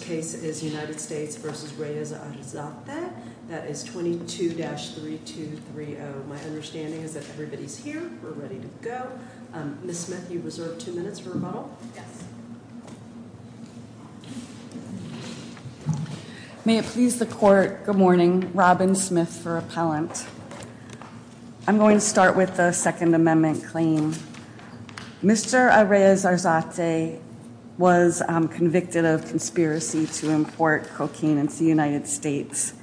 The first case is United States v. Reyes-Arzate. That is 22-3230. My understanding is that everybody's here. We're ready to go. Ms. Smith, you reserve two minutes for rebuttal. May it please the Court, good morning. Robin Smith for Appellant. I'm going to start with the Second Amendment claim. Mr. Reyes-Arzate was convicted of conspiracy to import cocaine into the United States.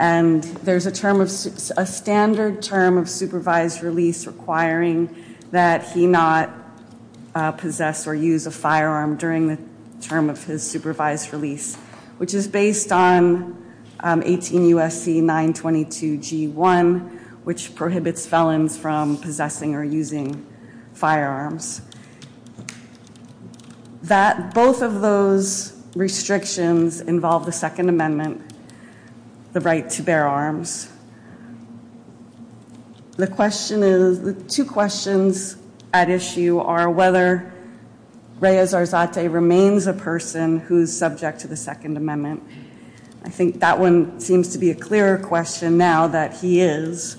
And there's a standard term of supervised release requiring that he not possess or use a firearm during the term of his supervised release, which is based on 18 U.S.C. 922 G1, which prohibits felons from possessing or using firearms. Both of those restrictions involve the Second Amendment, the right to bear arms. The two questions at issue are whether Reyes-Arzate remains a person who is subject to the Second Amendment. I think that one seems to be a clearer question now that he is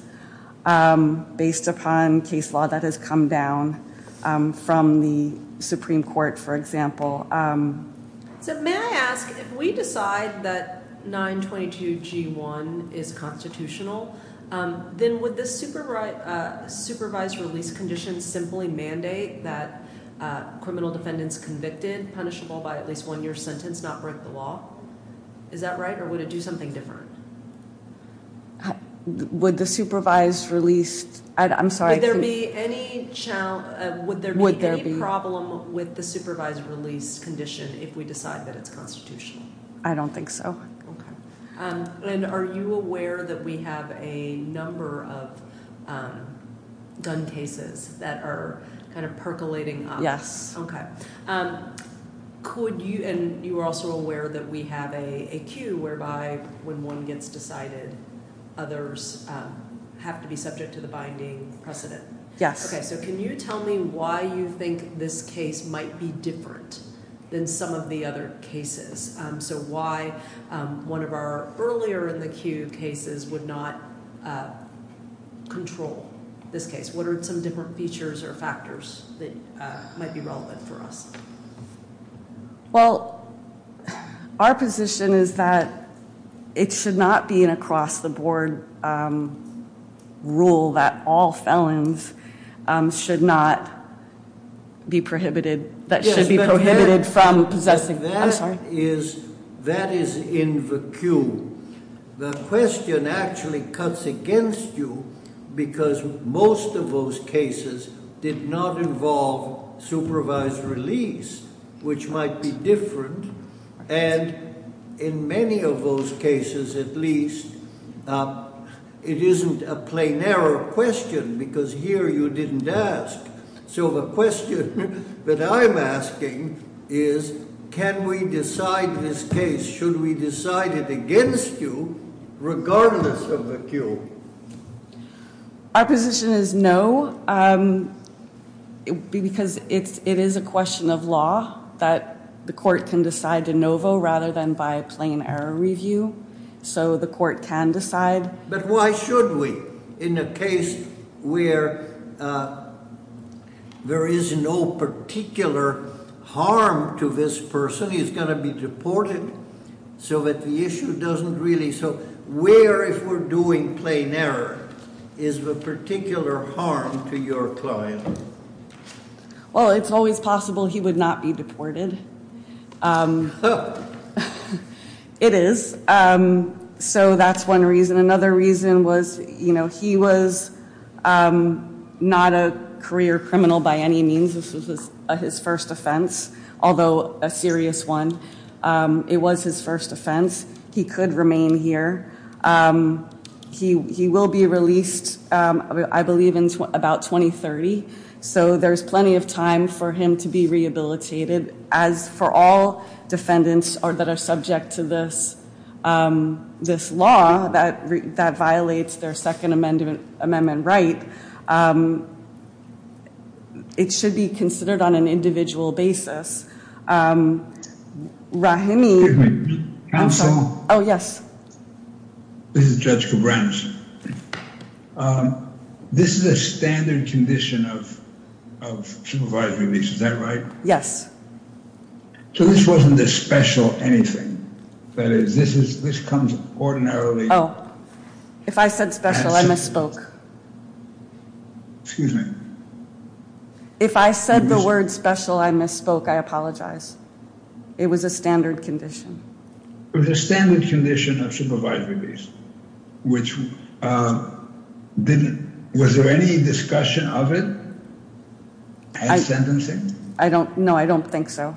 based upon case law that has come down from the Supreme Court, for example. So may I ask, if we decide that 922 G1 is constitutional, then would the supervised release condition simply mandate that criminal defendants convicted, punishable by at least one year sentence, not break the law? Is that right, or would it do something different? Would the supervised release... I'm sorry. Would there be any problem with the supervised release condition if we decide that it's constitutional? I don't think so. Okay. And are you aware that we have a number of gun cases that are kind of percolating? Yes. Okay. And you are also aware that we have a queue whereby when one gets decided, others have to be subject to the binding precedent? Yes. Okay. So can you tell me why you think this case might be different than some of the other cases? So why one of our earlier in the queue cases would not control this case? What are some different features or factors that might be relevant for us? Well, our position is that it should not be an across-the-board rule that all felons should not be prohibited, that should be prohibited from possessing... That is in the queue. The question actually cuts against you because most of those cases did not involve supervised release, which might be different. And in many of those cases, at least, it isn't a plain error question because here you didn't ask. So the question that I'm asking is can we decide this case? Should we decide it against you regardless of the queue? Our position is no because it is a question of law that the court can decide de novo rather than by a plain error review. So the court can decide. But why should we? In a case where there is no particular harm to this person, he's going to be deported, so that the issue doesn't really... So where, if we're doing plain error, is the particular harm to your client? Well, it's always possible he would not be deported. It is. So that's one reason. Another reason was, you know, he was not a career criminal by any means. This was his first offense, although a serious one. It was his first offense. He could remain here. He will be released, I believe, in about 2030. So there's plenty of time for him to be rehabilitated. As for all defendants that are subject to this law that violates their Second Amendment right, it should be considered on an individual basis. Rahimi... Oh, yes. This is Judge Kobranus. This is a standard condition of supervised release, is that right? Yes. So this wasn't a special anything? That is, this comes ordinarily... Oh, if I said special, I misspoke. Excuse me. If I said the word special, I misspoke. I apologize. It was a standard condition. It was a standard condition of supervised release. Was there any discussion of it at sentencing? No, I don't think so.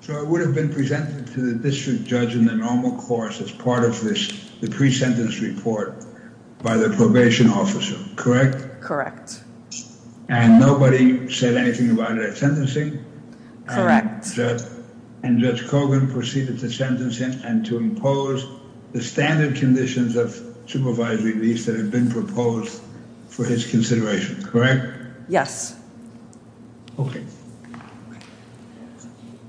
So it would have been presented to the district judge in the normal course as part of the pre-sentence report by the probation officer, correct? Correct. And nobody said anything about it at sentencing? Correct. And Judge Kogan proceeded to sentence him and to impose the standard conditions of supervised release that had been proposed for his consideration, correct? Yes. Okay.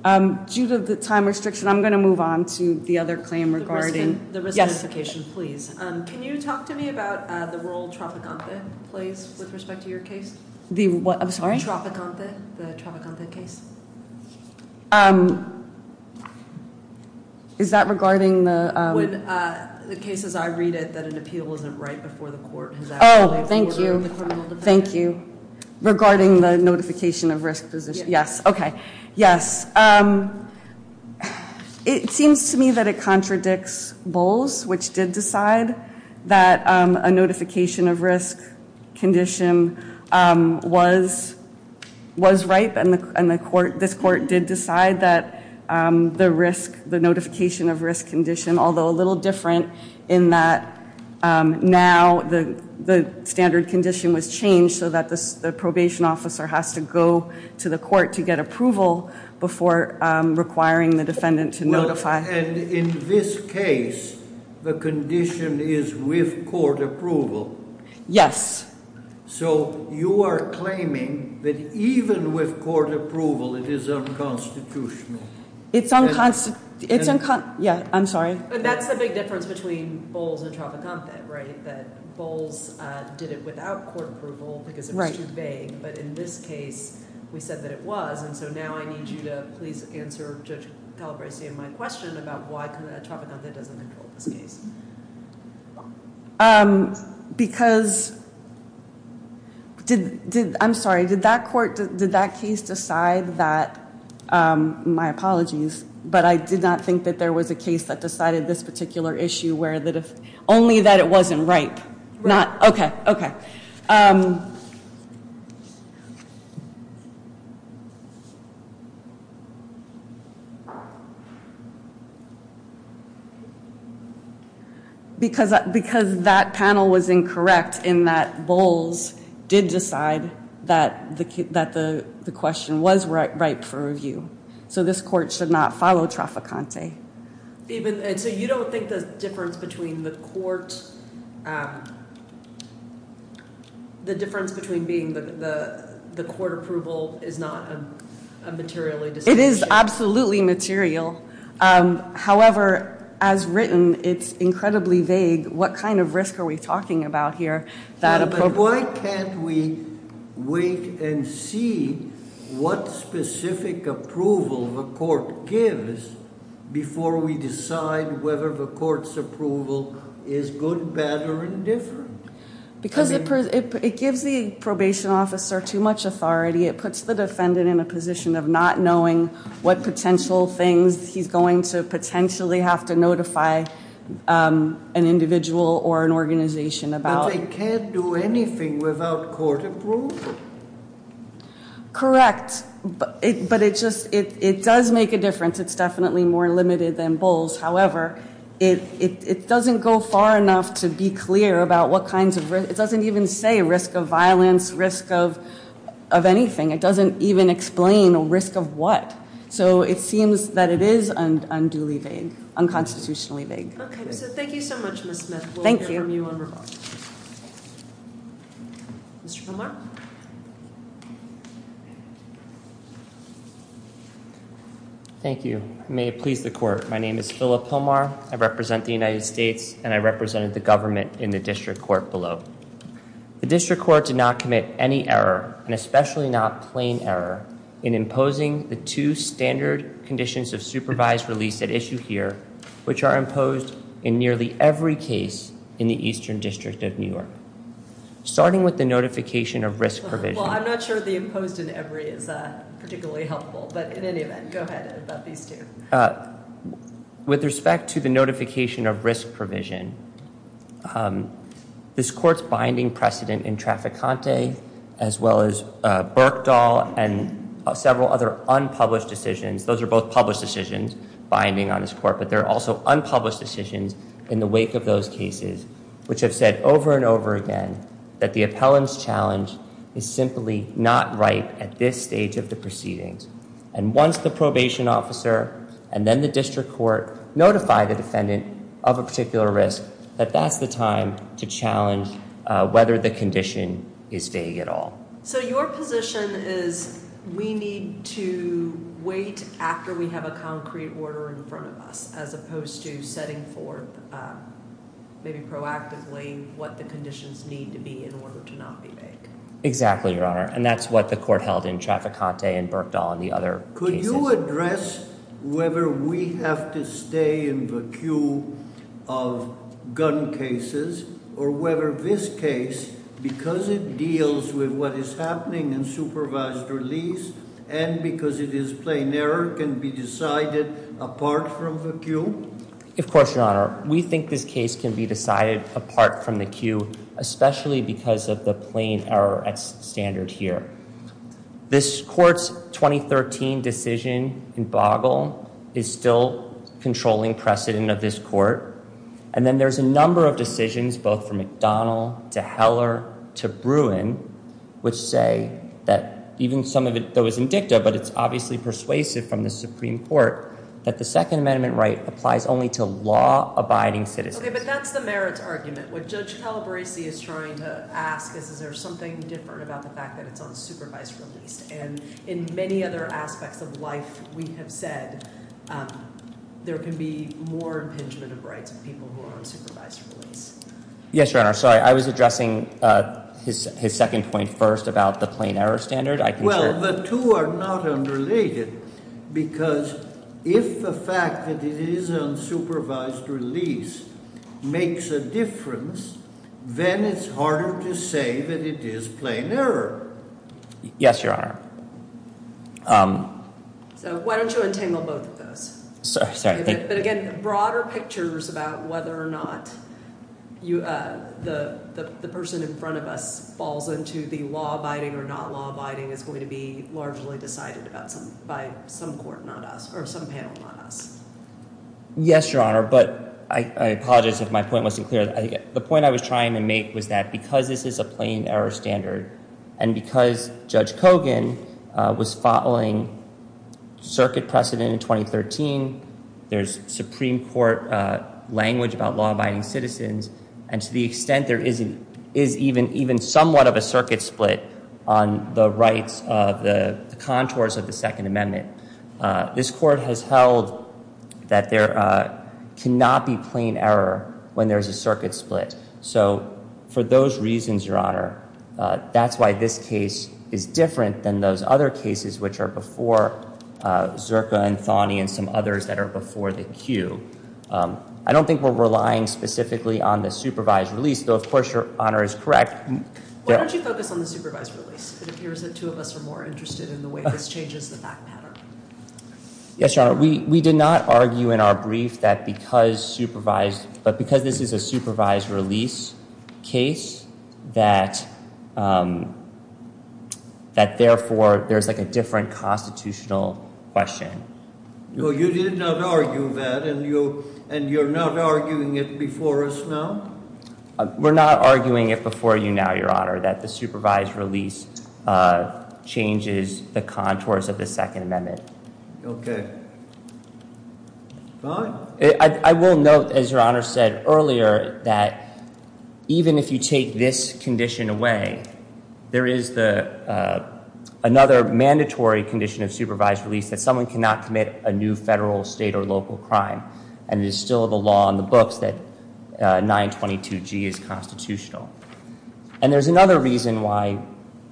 Due to the time restriction, I'm going to move on to the other claim regarding... The risk notification, please. Can you talk to me about the role Tropicante plays with respect to your case? The what? I'm sorry? Tropicante, the Tropicante case. Is that regarding the... The case as I read it, that an appeal isn't right before the court. Oh, thank you. Thank you. Regarding the notification of risk position. Yes. Okay. Yes. It seems to me that it contradicts Bowles, which did decide that a notification of risk condition was ripe and this court did decide that the notification of risk condition, although a little different in that now the standard condition was changed so that the probation officer has to go to the court to get approval before requiring the defendant to notify. And in this case, the condition is with court approval. Yes. So you are claiming that even with court approval, it is unconstitutional. It's unconstitutional. Yeah, I'm sorry. But that's the big difference between Bowles and Tropicante, right? That Bowles did it without court approval because it was too vague. But in this case, we said that it was. And so now I need you to please answer Judge Calabresi and my question about why Tropicante doesn't control this case. Because did I'm sorry. Did that court did that case decide that my apologies, but I did not think that there was a case that decided this particular issue where that if only that it wasn't right. Not OK. OK. Because because that panel was incorrect in that Bowles did decide that that the question was right for review, so this court should not follow Tropicante. Even so, you don't think the difference between the court. The difference between being the court approval is not a materially, it is absolutely material. However, as written, it's incredibly vague. What kind of risk are we talking about here? Why can't we wait and see what specific approval the court gives before we decide whether the court's approval is good, bad or indifferent? Because it gives the probation officer too much authority. It puts the defendant in a position of not knowing what potential things he's going to potentially have to notify an individual or an organization about. They can't do anything without court approval. Correct, but it just it does make a difference. It's definitely more limited than Bowles. However, it doesn't go far enough to be clear about what kinds of it doesn't even say risk of violence, risk of of anything. It doesn't even explain a risk of what. So it seems that it is unduly vague, unconstitutionally vague. OK, so thank you so much, Ms. Smith. Thank you. Mr. Pomar. Thank you. May it please the court. My name is Philip Pomar. I represent the United States and I represented the government in the district court below. The district court did not commit any error and especially not plain error in imposing the two standard conditions of supervised release at issue here, which are imposed in nearly every case in the Eastern District of New York, starting with the notification of risk provision. Well, I'm not sure the imposed in every is particularly helpful, but in any event, go ahead about these two. With respect to the notification of risk provision, this court's binding precedent in Traficante, as well as Berkdahl and several other unpublished decisions, those are both published decisions binding on this court. But there are also unpublished decisions in the wake of those cases which have said over and over again that the appellant's challenge is simply not right at this stage of the proceedings. And once the probation officer and then the district court notify the defendant of a particular risk, that that's the time to challenge whether the condition is vague at all. So your position is we need to wait after we have a concrete order in front of us, as opposed to setting forth maybe proactively what the conditions need to be in order to not be vague. Exactly, Your Honor, and that's what the court held in Traficante and Berkdahl and the other cases. Could you address whether we have to stay in the queue of gun cases, or whether this case, because it deals with what is happening in supervised release, and because it is plain error, can be decided apart from the queue? Of course, Your Honor. We think this case can be decided apart from the queue, especially because of the plain error at standard here. This court's 2013 decision in Boggle is still controlling precedent of this court. And then there's a number of decisions, both from McDonald to Heller to Bruin, which say that even some of it, though it's in dicta, but it's obviously persuasive from the Supreme Court, that the Second Amendment right applies only to law-abiding citizens. Okay, but that's the merits argument. What Judge Calabresi is trying to ask is, is there something different about the fact that it's on supervised release? And in many other aspects of life, we have said there can be more impingement of rights of people who are on supervised release. Yes, Your Honor. Sorry, I was addressing his second point first about the plain error standard. Well, the two are not unrelated because if the fact that it is on supervised release makes a difference, then it's harder to say that it is plain error. Yes, Your Honor. So why don't you untangle both of those? Sorry. The person in front of us falls into the law-abiding or not law-abiding is going to be largely decided by some panel, not us. Yes, Your Honor, but I apologize if my point wasn't clear. The point I was trying to make was that because this is a plain error standard and because Judge Kogan was following circuit precedent in 2013, there's Supreme Court language about law-abiding citizens, and to the extent there is even somewhat of a circuit split on the rights of the contours of the Second Amendment, this Court has held that there cannot be plain error when there is a circuit split. So for those reasons, Your Honor, that's why this case is different than those other cases which are before Zerka and Thonney and some others that are before the Q. I don't think we're relying specifically on the supervised release, though of course Your Honor is correct. Why don't you focus on the supervised release? It appears that two of us are more interested in the way this changes the fact pattern. Yes, Your Honor. Your Honor, we did not argue in our brief that because this is a supervised release case, that therefore there's like a different constitutional question. No, you did not argue that, and you're not arguing it before us now? We're not arguing it before you now, Your Honor, that the supervised release changes the contours of the Second Amendment. Okay. Fine. I will note, as Your Honor said earlier, that even if you take this condition away, there is another mandatory condition of supervised release that someone cannot commit a new federal, state, or local crime, and it is still the law in the books that 922G is constitutional. And there's another reason why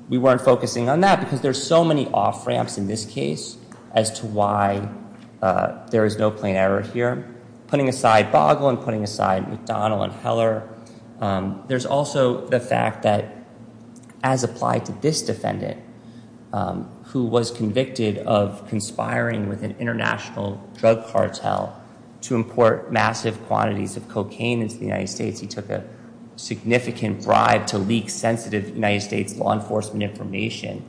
we weren't focusing on that, because there's so many off-ramps in this case as to why there is no plain error here. Putting aside Boggle and putting aside McDonald and Heller, there's also the fact that, as applied to this defendant, who was convicted of conspiring with an international drug cartel to import massive quantities of cocaine into the United States, he took a significant bribe to leak sensitive United States law enforcement information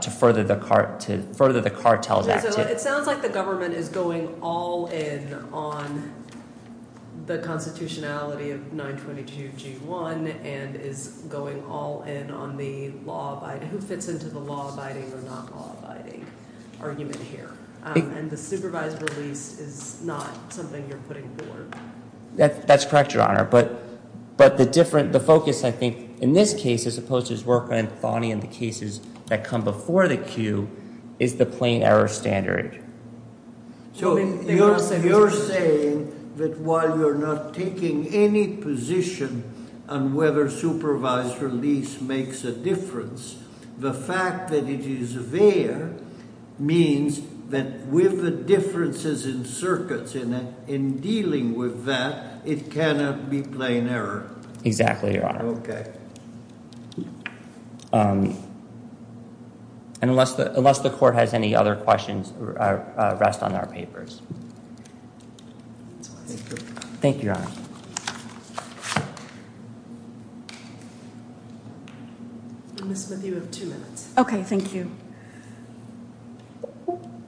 to further the cartel's activity. It sounds like the government is going all in on the constitutionality of 922G1 and is going all in on the who fits into the law-abiding or not law-abiding argument here, and the supervised release is not something you're putting forward. That's correct, Your Honor, but the focus, I think, in this case, as opposed to his work on Anthony and the cases that come before the queue, is the plain error standard. So you're saying that while you're not taking any position on whether supervised release makes a difference, the fact that it is there means that with the differences in circuits in dealing with that, it cannot be plain error. Exactly, Your Honor. Okay. And unless the court has any other questions, rest on our papers. Thank you, Your Honor. Ms. Smith, you have two minutes. Okay, thank you.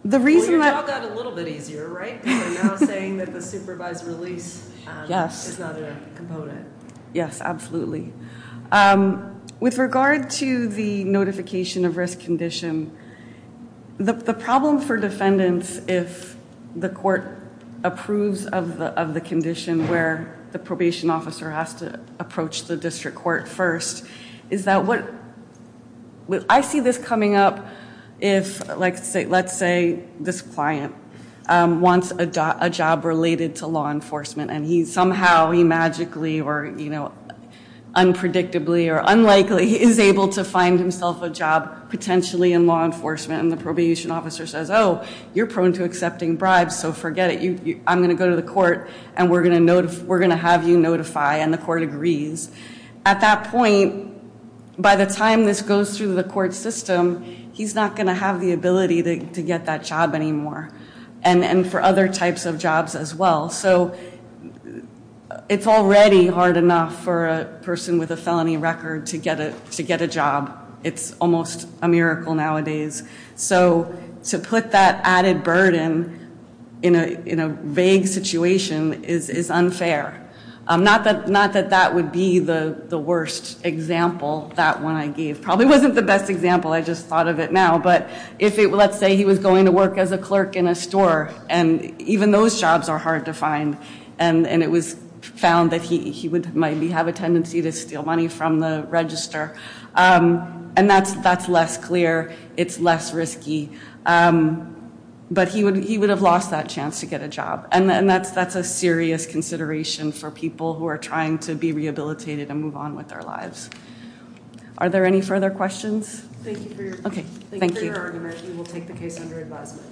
The reason that- Well, your job got a little bit easier, right? You're now saying that the supervised release is not a component. Yes, absolutely. With regard to the notification of risk condition, the problem for defendants, if the court approves of the condition where the probation officer has to approach the district court first, is that what- I see this coming up if, let's say, this client wants a job related to law enforcement, and he somehow, magically, or unpredictably, or unlikely, is able to find himself a job potentially in law enforcement, and the probation officer says, oh, you're prone to accepting bribes, so forget it. I'm going to go to the court, and we're going to have you notify, and the court agrees. At that point, by the time this goes through the court system, he's not going to have the ability to get that job anymore, and for other types of jobs as well. So it's already hard enough for a person with a felony record to get a job. It's almost a miracle nowadays. So to put that added burden in a vague situation is unfair. Not that that would be the worst example, that one I gave. Probably wasn't the best example. I just thought of it now. Let's say he was going to work as a clerk in a store, and even those jobs are hard to find, and it was found that he might have a tendency to steal money from the register, and that's less clear. It's less risky, but he would have lost that chance to get a job, and that's a serious consideration for people who are trying to be rehabilitated and move on with their lives. Are there any further questions? Thank you for your argument. We will take the case under advisement.